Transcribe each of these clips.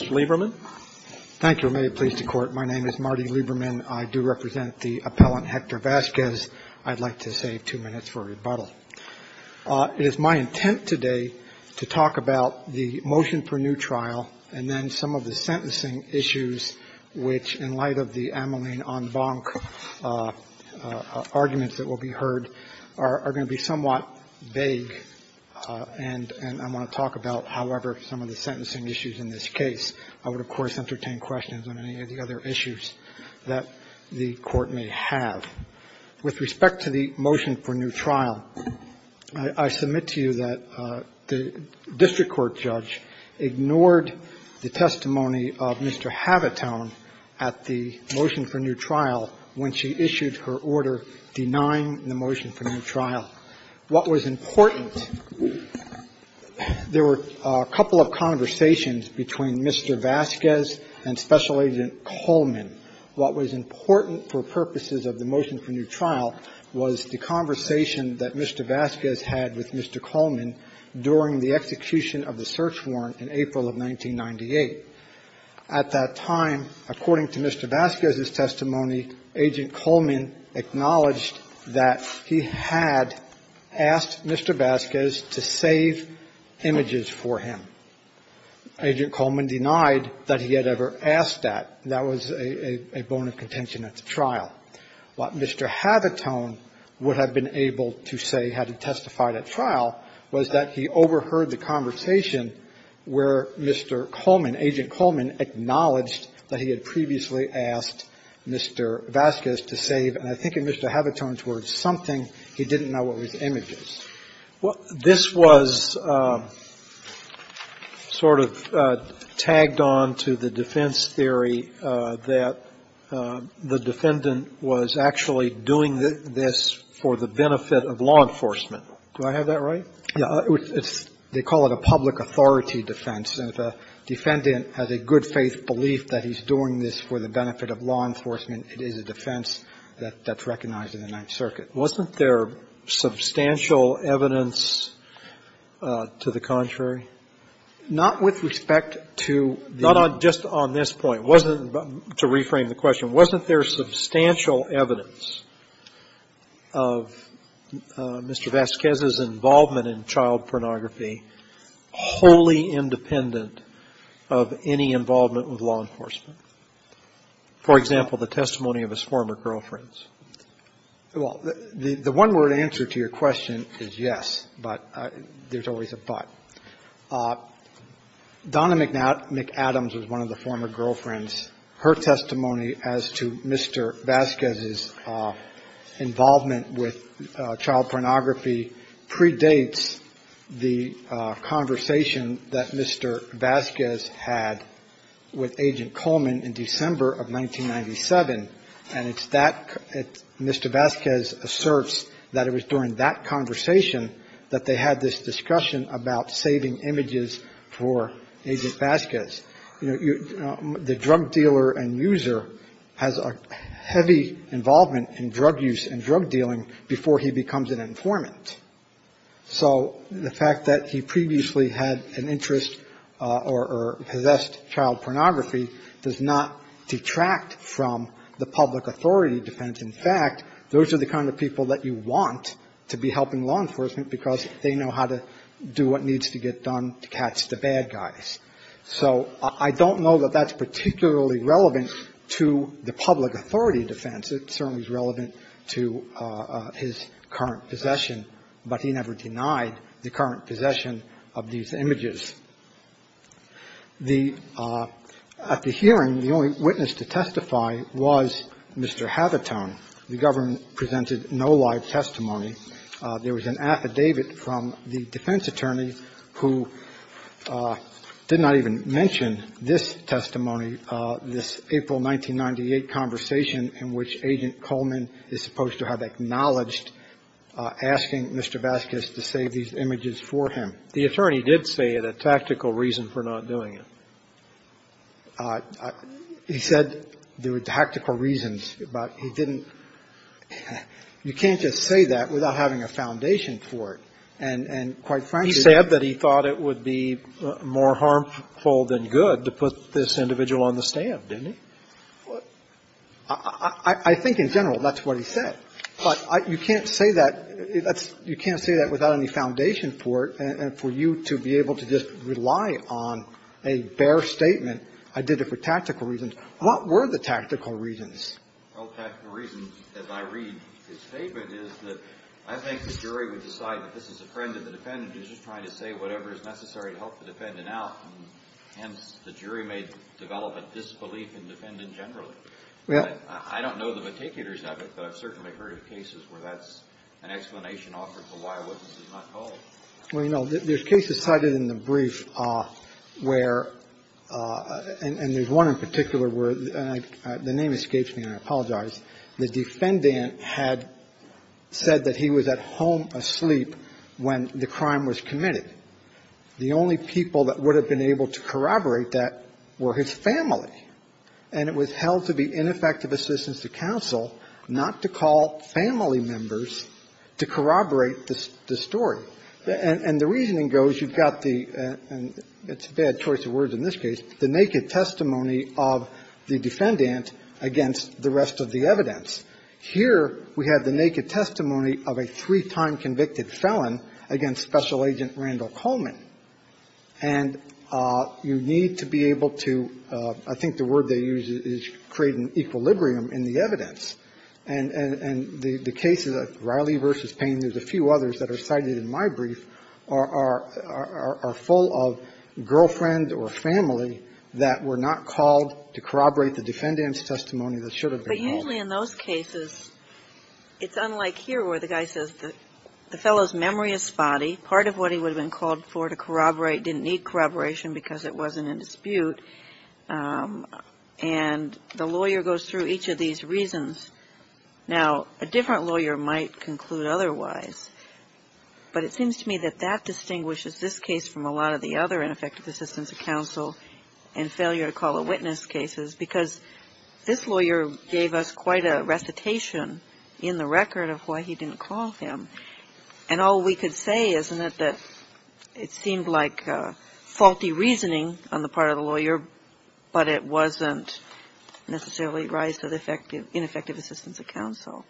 It is my intent today to talk about the motion per new trial and then some of the sentencing issues which in light of the ameline en banc arguments that will be heard are going to be somewhat vague and I want to talk about, however, some of the sentencing issues in this case. I would, of course, entertain questions on any of the other issues that the court may have. With respect to the motion for new trial, I submit to you that the district court judge ignored the testimony of Mr. Habitone at the motion for new trial when she issued her order denying the motion for new trial. What was important, there were a couple of conversations between Mr. Vasquez and Special Agent Coleman. What was important for purposes of the motion for new trial was the conversation that Mr. Vasquez had with Mr. Coleman during the execution of the search warrant in April of 1998. At that time, according to Mr. Vasquez's testimony, Agent Coleman acknowledged that he had asked Mr. Vasquez to save images for him. Agent Coleman denied that he had ever asked that. That was a bone of contention at the trial. What Mr. Habitone would have been able to say had he testified at trial was that he had previously asked Mr. Vasquez to save, and I think in Mr. Habitone's words, something he didn't know were his images. Well, this was sort of tagged on to the defense theory that the defendant was actually doing this for the benefit of law enforcement. Do I have that right? Yeah, it's they call it a public authority defense, and if a defendant has a good faith belief that he's doing this for the benefit of law enforcement, it is a defense that's recognized in the Ninth Circuit. Wasn't there substantial evidence to the contrary? Not with respect to the Not just on this point. Wasn't, to reframe the question, wasn't there substantial evidence of Mr. Vasquez's involvement in child pornography wholly independent of any involvement with law enforcement? For example, the testimony of his former girlfriends? Well, the one-word answer to your question is yes, but there's always a but. Donna McAdams was one of the former girlfriends. Her testimony as to Mr. Vasquez's involvement with child pornography predates the conversation that Mr. Vasquez had with Agent Coleman in December of 1997, and it's that, Mr. Vasquez asserts that it was during that conversation that they had this discussion about saving images for Agent Vasquez. You know, the drug dealer and user has a heavy involvement in drug use and drug dealing before he becomes an informant. So the fact that he previously had an interest or possessed child pornography does not detract from the public authority defense. In fact, those are the kind of people that you want to be helping law enforcement because they know how to do what needs to get done to catch the bad guys. So I don't know that that's particularly relevant to the public authority defense. It certainly is relevant to his current possession, but he never denied the current possession of these images. The – at the hearing, the only witness to testify was Mr. Havitone. The government presented no live testimony. There was an affidavit from the defense attorney who did not even mention this testimony, this April 1998 conversation in which Agent Coleman is supposed to have acknowledged asking Mr. Vasquez to save these images for him. The attorney did say it, a tactical reason for not doing it. He said there were tactical reasons, but he didn't – you can't just say that without having a foundation for it. And quite frankly, he said that he thought it would be more harmful than good to put this individual on the stand, didn't he? Well, I think in general that's what he said, but you can't say that – you can't say that without any foundation for it and for you to be able to just rely on a bare statement, I did it for tactical reasons. What were the tactical reasons? Well, the tactical reason, as I read his statement, is that I think the jury would decide that this is a friend of the defendant who's just trying to say whatever is necessary to help the defendant out, and hence the jury may develop a disbelief in the defendant generally. Well – I don't know the meticulous of it, but I've certainly heard of cases where that's an explanation offered for why a witness is not called. Well, you know, there's cases cited in the brief where – and there's one in particular where – the name escapes me, and I apologize – the defendant had said that he was at home asleep when the crime was committed. The only people that would have been able to corroborate that were his family. And it was held to be ineffective assistance to counsel not to call family members to corroborate the story. And the reasoning goes, you've got the – and it's a bad choice of words in this case – the naked testimony of the defendant against the rest of the evidence. Here, we have the naked testimony of a three-time convicted felon against Special Agent Randall Coleman. And you need to be able to – I think the word they use is create an equilibrium in the evidence. And the case of Riley v. Payne, there's a few others that are cited in my brief, are full of girlfriend or family that were not called to corroborate the defendant's testimony that should have been called. But usually in those cases, it's unlike here where the guy says the fellow's memory is spotty. Part of what he would have been called for to corroborate didn't need corroboration because it wasn't in dispute. And the lawyer goes through each of these reasons. Now, a different lawyer might conclude otherwise. But it seems to me that that distinguishes this case from a lot of the other ineffective assistance of counsel and failure to call the witness cases because this lawyer gave us quite a recitation in the record of why he didn't call him. And all we could say is that it seemed like faulty reasoning on the part of the lawyer, but it wasn't necessarily rise to the ineffective assistance of counsel.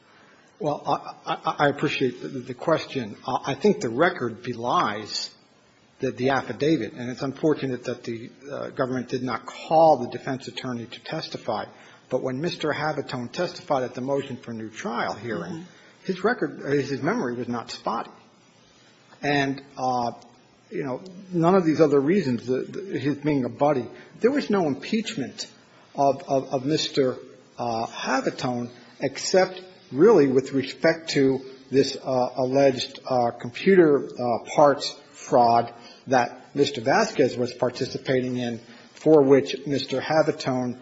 Well, I appreciate the question. I think the record belies the affidavit. And it's unfortunate that the government did not call the defense attorney to testify. But when Mr. Havitone testified at the motion for new trial hearing, his record is his memory was not spotty. And, you know, none of these other reasons, his being a buddy, there was no impeachment of Mr. Havitone except really with respect to this alleged computer parts fraud that Mr. Vasquez was participating in, for which Mr. Havitone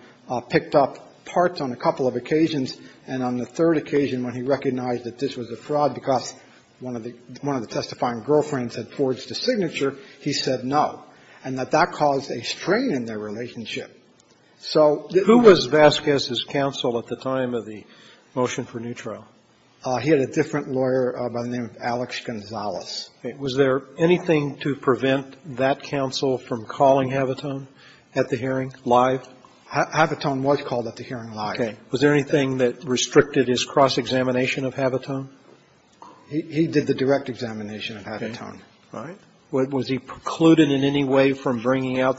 picked up parts on a couple of occasions. And on the third occasion, when he recognized that this was a fraud because one of the testifying girlfriends had forged a signature, he said no, and that that caused a strain in their relationship. So the ---- Who was Vasquez's counsel at the time of the motion for new trial? He had a different lawyer by the name of Alex Gonzalez. Was there anything to prevent that counsel from calling Havitone at the hearing live? Havitone was called at the hearing live. Okay. Was there anything that restricted his cross-examination of Havitone? He did the direct examination of Havitone. Okay. All right. Was he precluded in any way from bringing out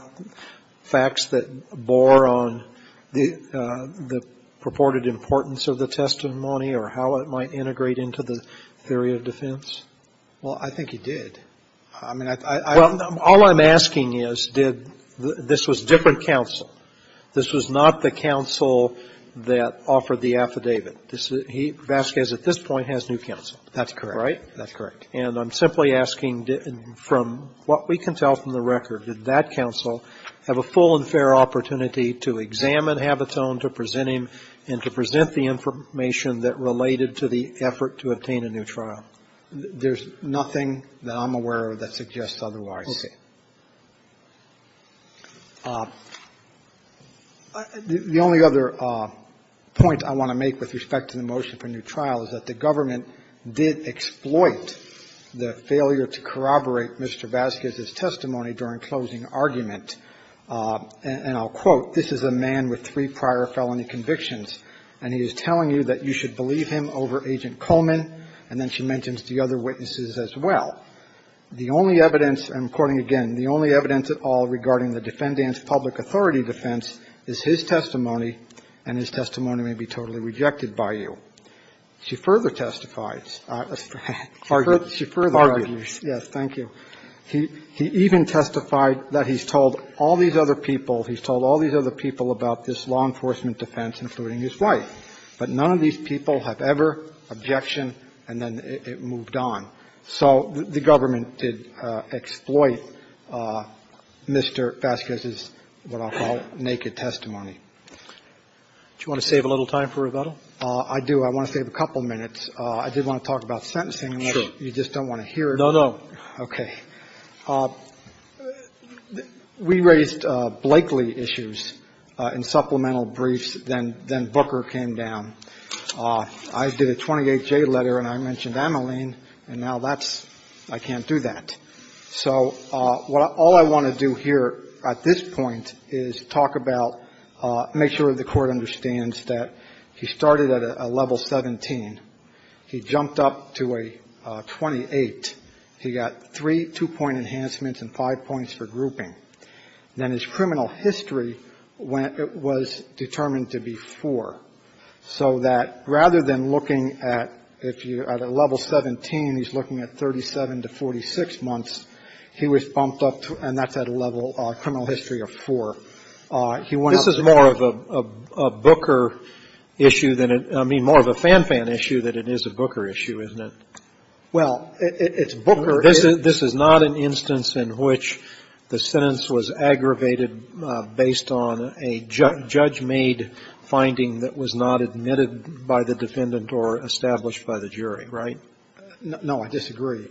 facts that bore on the purported importance of the testimony or how it might integrate into the theory of defense? Well, I think he did. I mean, I don't know. All I'm asking is, did the ---- this was different counsel. This was not the counsel that offered the affidavit. This is ---- he, Vasquez, at this point has new counsel. That's correct. Right? That's correct. And I'm simply asking, from what we can tell from the record, did that counsel have a full and fair opportunity to examine Havitone, to present him, and to present the information that related to the effort to obtain a new trial? There's nothing that I'm aware of that suggests otherwise. Okay. The only other point I want to make with respect to the motion for new trial is that the government did exploit the failure to corroborate Mr. Vasquez's testimony during closing argument. And I'll quote, this is a man with three prior felony convictions, and he is telling you that you should believe him over Agent Coleman, and then she mentions the other witnesses as well. The only evidence, and I'm quoting again, the only evidence at all regarding the defendant's public authority defense is his testimony, and his testimony may be totally rejected by you. She further testifies. She further argues. Yes, thank you. He even testified that he's told all these other people, he's told all these other people about this law enforcement defense, including his wife, but none of these people have ever objection, and then it moved on. So the government did exploit Mr. Vasquez's, what I'll call, naked testimony. Do you want to save a little time for rebuttal? I do. I want to save a couple minutes. I did want to talk about sentencing. Sure. You just don't want to hear it. No, no. Okay. We raised Blakely issues in supplemental briefs, then Booker came down. I did a 28-J letter, and I mentioned Ameline, and now that's – I can't do that. So what I – all I want to do here at this point is talk about – make sure the Court understands that he started at a level 17, he jumped up to a 28, he got three two-point enhancements and five points for grouping, then his criminal history went – was determined to be four. So that rather than looking at – if you're at a level 17, he's looking at 37 to 46 months, he was bumped up to – and that's at a level – a criminal history of four. He went up to – This is more of a Booker issue than – I mean, more of a Fan Fan issue than it is a Booker issue, isn't it? Well, it's Booker – This is not an instance in which the sentence was aggravated based on a judge-made finding that was not admitted by the defendant or established by the jury, right? No, I disagree.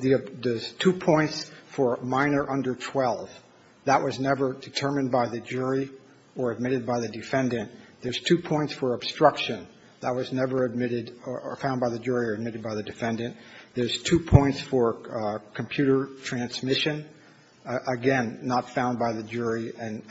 There's two points for minor under 12. That was never determined by the jury or admitted by the defendant. There's two points for obstruction. That was never admitted or found by the jury or admitted by the defendant. There's two points for computer transmission. Again, not found by the jury and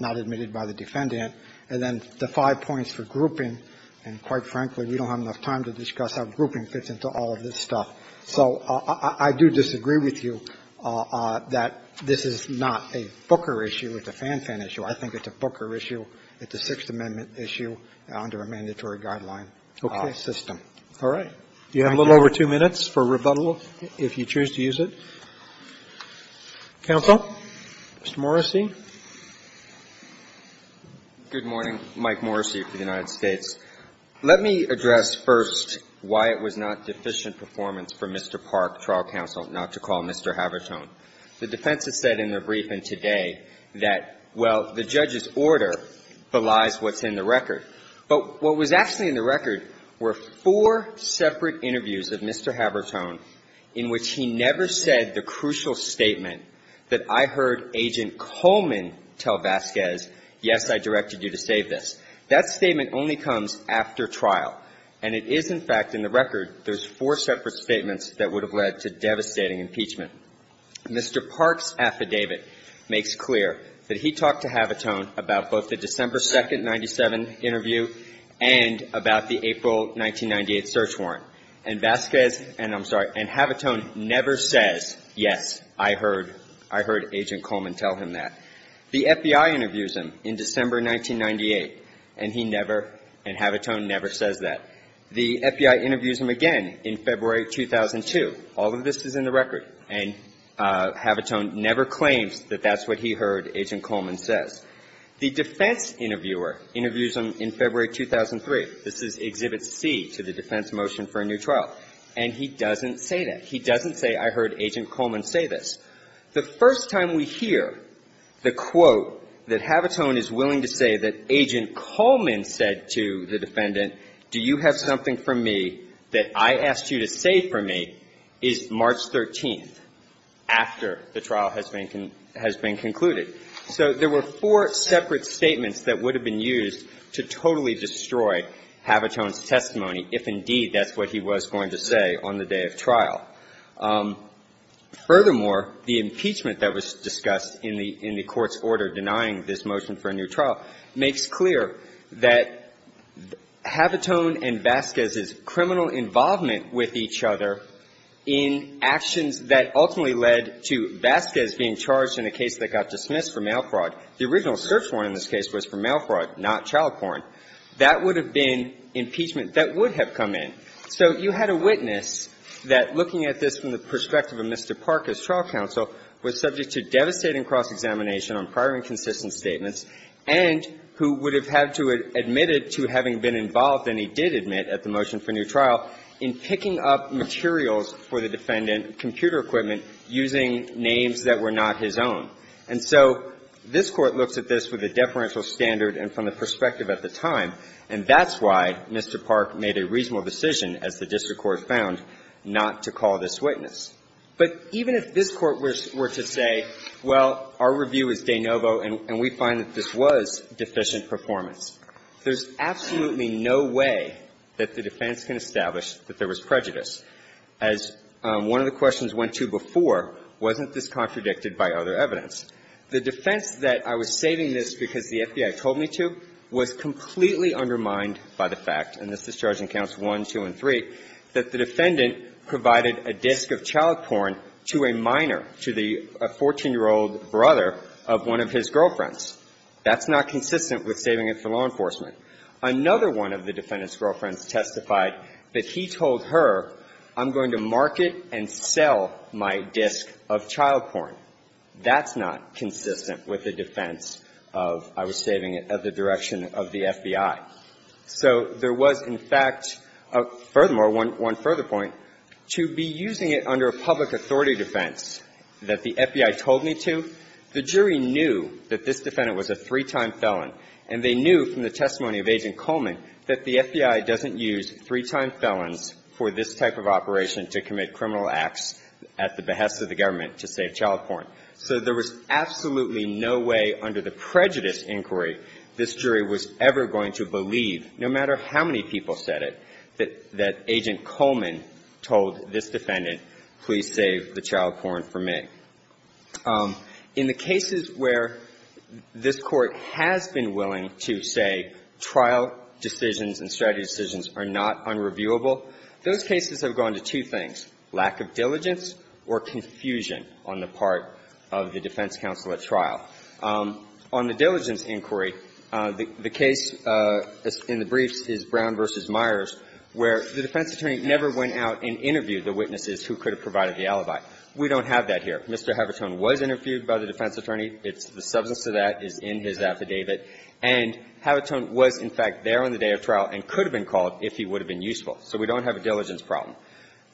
not admitted by the defendant. And then the five points for grouping, and quite frankly, we don't have enough time to discuss how grouping fits into all of this stuff. So I do disagree with you that this is not a Booker issue. It's a Fan Fan issue. I think it's a Booker issue. It's a Sixth Amendment issue under a mandatory guideline system. All right. You have a little over two minutes for rebuttal, if you choose to use it. Counsel, Mr. Morrissey. Good morning. Mike Morrissey for the United States. Let me address first why it was not deficient performance for Mr. Park, trial counsel, not to call Mr. Habertone. The defense has said in their briefing today that, well, the judge's order belies what's in the record. But what was actually in the record were four separate interviews of Mr. Habertone in which he never said the crucial statement that I heard Agent Coleman tell Vasquez, yes, I directed you to save this. That statement only comes after trial. And it is, in fact, in the record, there's four separate statements that would have led to devastating impeachment. Mr. Park's affidavit makes clear that he talked to Habertone about both the December 2nd, 97 interview and about the April 1998 search warrant. And Vasquez, and I'm sorry, and Habertone never says, yes, I heard Agent Coleman tell him that. The FBI interviews him in December 1998, and he never, and Habertone never says that. The FBI interviews him again in February 2002. All of this is in the record. And Habertone never claims that that's what he heard Agent Coleman says. The defense interviewer interviews him in February 2003. This is Exhibit C to the defense motion for a new trial. And he doesn't say that. He doesn't say, I heard Agent Coleman say this. The first time we hear the quote that Habertone is willing to say that Agent Coleman said to the defendant, do you have something for me that I asked you to save for me, is March 13th, after the trial has been concluded. So there were four separate statements that would have been used to totally destroy Habertone's testimony, if indeed that's what he was going to say on the day of trial. Furthermore, the impeachment that was discussed in the court's order denying this motion for a new trial makes clear that Habertone and Vasquez's criminal involvement with each other in actions that ultimately led to Vasquez being charged in a case that got dismissed for mail fraud. The original search warrant in this case was for mail fraud, not child porn. That would have been impeachment that would have come in. So you had a witness that, looking at this from the perspective of Mr. Park as trial counsel, was subject to devastating cross-examination on prior inconsistent statements and who would have had to admit it to having been involved, and he did admit at the motion for new trial, in picking up materials for the defendant, computer equipment, using names that were not his own. And so this Court looks at this with a deferential standard and from the perspective of the time, and that's why Mr. Park made a reasonable decision, as the district court found, not to call this witness. But even if this Court were to say, well, our review is de novo and we find that this was deficient performance, there's absolutely no way that the defense can establish that there was prejudice, as one of the questions went to before wasn't this contradicted by other evidence. The defense that I was saving this because the FBI told me to was completely undermined by the fact, and this is charging counts 1, 2, and 3, that the defendant provided a disc of child porn to a minor, to the 14-year-old brother of one of his girlfriends. That's not consistent with saving it for law enforcement. Another one of the defendant's girlfriends testified that he told her, I'm going to market and sell my disc of child porn. That's not consistent with the defense of I was saving it at the direction of the FBI. So there was, in fact, furthermore, one further point, to be using it under a public authority defense that the FBI told me to, the jury knew that this defendant was a three-time felon, and they knew from the testimony of Agent Coleman that the FBI doesn't use three-time felons for this type of operation to commit criminal acts at the behest of the government to save child porn. So there was absolutely no way under the prejudice inquiry this jury was ever going to believe, no matter how many people said it, that Agent Coleman told this defendant, please save the child porn for me. In the cases where this Court has been willing to say trial decisions and strategy decisions are not unreviewable, those cases have gone to two things, lack of diligence or confusion on the part of the defense counsel at trial. On the diligence inquiry, the case in the briefs is Brown v. Myers, where the defense attorney never went out and interviewed the witnesses who could have provided the alibi. We don't have that here. Mr. Havitone was interviewed by the defense attorney. It's the substance of that is in his affidavit. And Havitone was, in fact, there on the day of trial and could have been called if he would have been useful. So we don't have a diligence problem.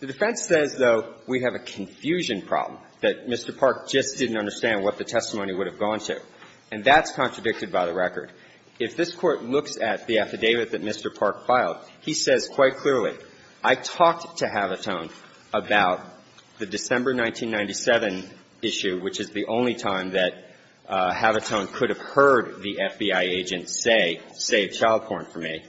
The defense says, though, we have a confusion problem, that Mr. Park just didn't understand what the testimony would have gone to. And that's contradicted by the record. If this Court looks at the affidavit that Mr. Park filed, he says quite clearly, I talked to Havitone about the December 1997 issue, which is the only time that Havitone could have heard the FBI agent say, save child porn for me.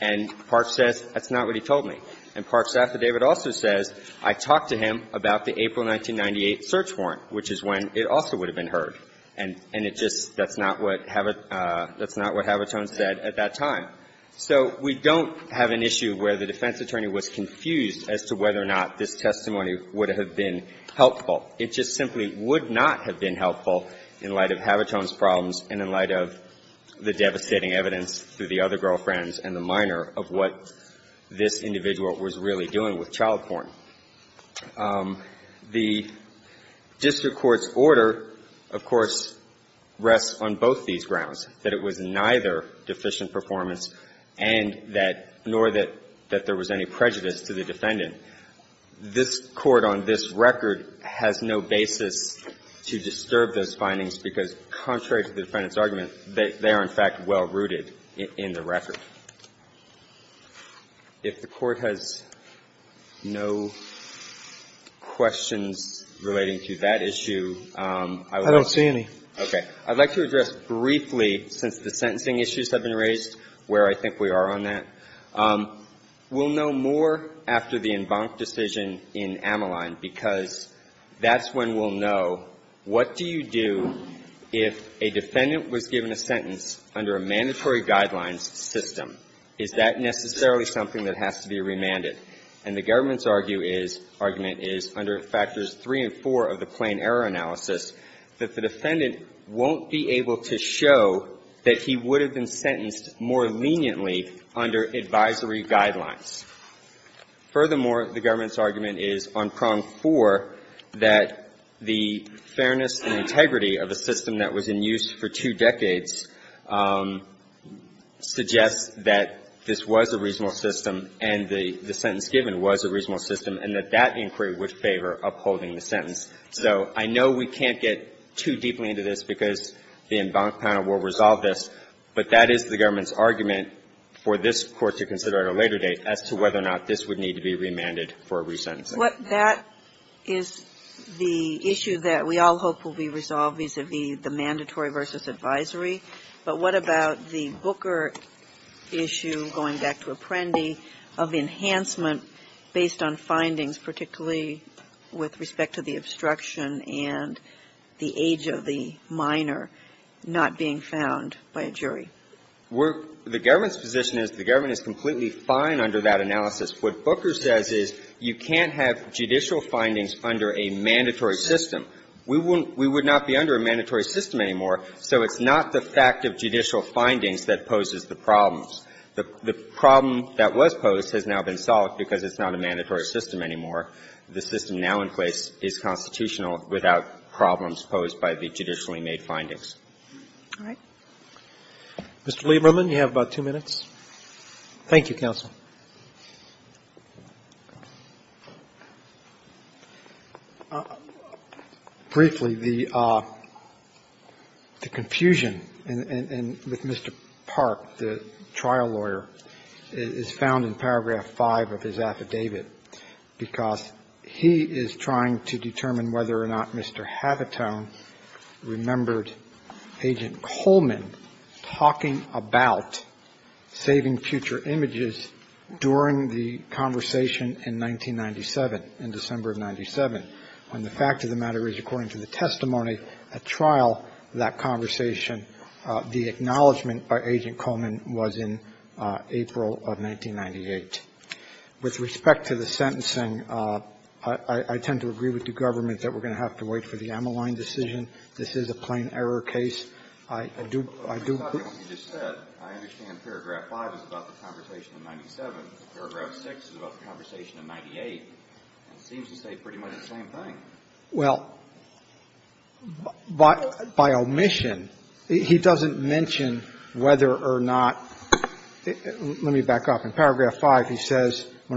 And Park says, that's not what he told me. And Park's affidavit also says, I talked to him about the April 1998 search warrant, which is when it also would have been heard. And it just that's not what Havitone said at that time. So we don't have an issue where the defense attorney was confused as to whether or not this testimony would have been helpful. It just simply would not have been helpful in light of Havitone's problems and in light of the devastating evidence through the other girlfriends and the minor of what this individual was really doing with child porn. The district court's order, of course, rests on both these grounds, that it was neither deficient performance and that nor that there was any prejudice to the defendant. And this Court, on this record, has no basis to disturb those findings because, contrary to the defendant's argument, they are, in fact, well-rooted in the record. If the Court has no questions relating to that issue, I would like to address briefly, since the sentencing issues have been raised, where I think we are on that. We'll know more after the Embank decision in Ameline because that's when we'll know what do you do if a defendant was given a sentence under a mandatory guidelines system. Is that necessarily something that has to be remanded? And the government's argument is, under Factors III and IV of the Plain Error Analysis, that the defendant won't be able to show that he would have been sentenced more leniently under advisory guidelines. Furthermore, the government's argument is, on Prong IV, that the fairness and integrity of a system that was in use for two decades suggests that this was a reasonable system and the sentence given was a reasonable system and that that inquiry would favor upholding the sentence. So I know we can't get too deeply into this because the Embank panel will resolve this, but that is the government's argument for this Court to consider at a later date as to whether or not this would need to be remanded for a resentencing. What that is the issue that we all hope will be resolved vis-a-vis the mandatory versus advisory. But what about the Booker issue, going back to Apprendi, of enhancement based on findings, particularly with respect to the obstruction and the age of the minor, not being found by a jury? The government's position is the government is completely fine under that analysis. What Booker says is you can't have judicial findings under a mandatory system. We would not be under a mandatory system anymore, so it's not the fact of judicial findings that poses the problems. The problem that was posed has now been solved because it's not a mandatory system anymore. The system now in place is constitutional without problems posed by the judicially made findings. All right. Mr. Lieberman, you have about two minutes. Thank you, counsel. Briefly, the confusion with Mr. Park, the trial lawyer, is found in paragraph 5 of his affidavit, because he is trying to determine whether or not Mr. Havitone remembered Agent Coleman talking about saving future images during the conversation in 1997, in December of 97, when the fact of the matter is, according to the testimony at trial of that conversation, the acknowledgment by Agent Coleman was in April of 1998. With respect to the sentencing, I tend to agree with the government that we're going to have to wait for the Ammaline decision. This is a plain error case. I do — I do — But, Mr. Lieberman, you just said, I understand paragraph 5 is about the conversation in 97. Paragraph 6 is about the conversation in 98. It seems to say pretty much the same thing. Well, by omission, he doesn't mention whether or not — let me back up. In paragraph 5, he says, I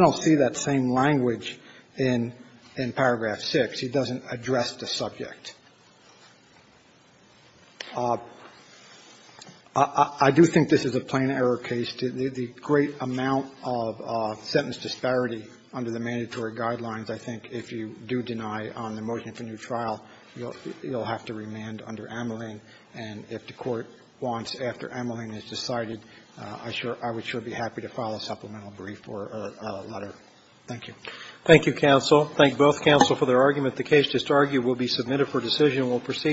don't see that same language in paragraph 6. He doesn't address the subject. I do think this is a plain error case. The great amount of sentence disparity under the mandatory guidelines, I think, if you do deny on the motion for new trial, you'll have to remand under Ammaline and if the court wants after Ammaline is decided, I would sure be happy to file a supplemental brief or a letter. Thank you. Thank you, counsel. Thank both counsel for their argument. The case, just argued, will be submitted for decision. We'll proceed.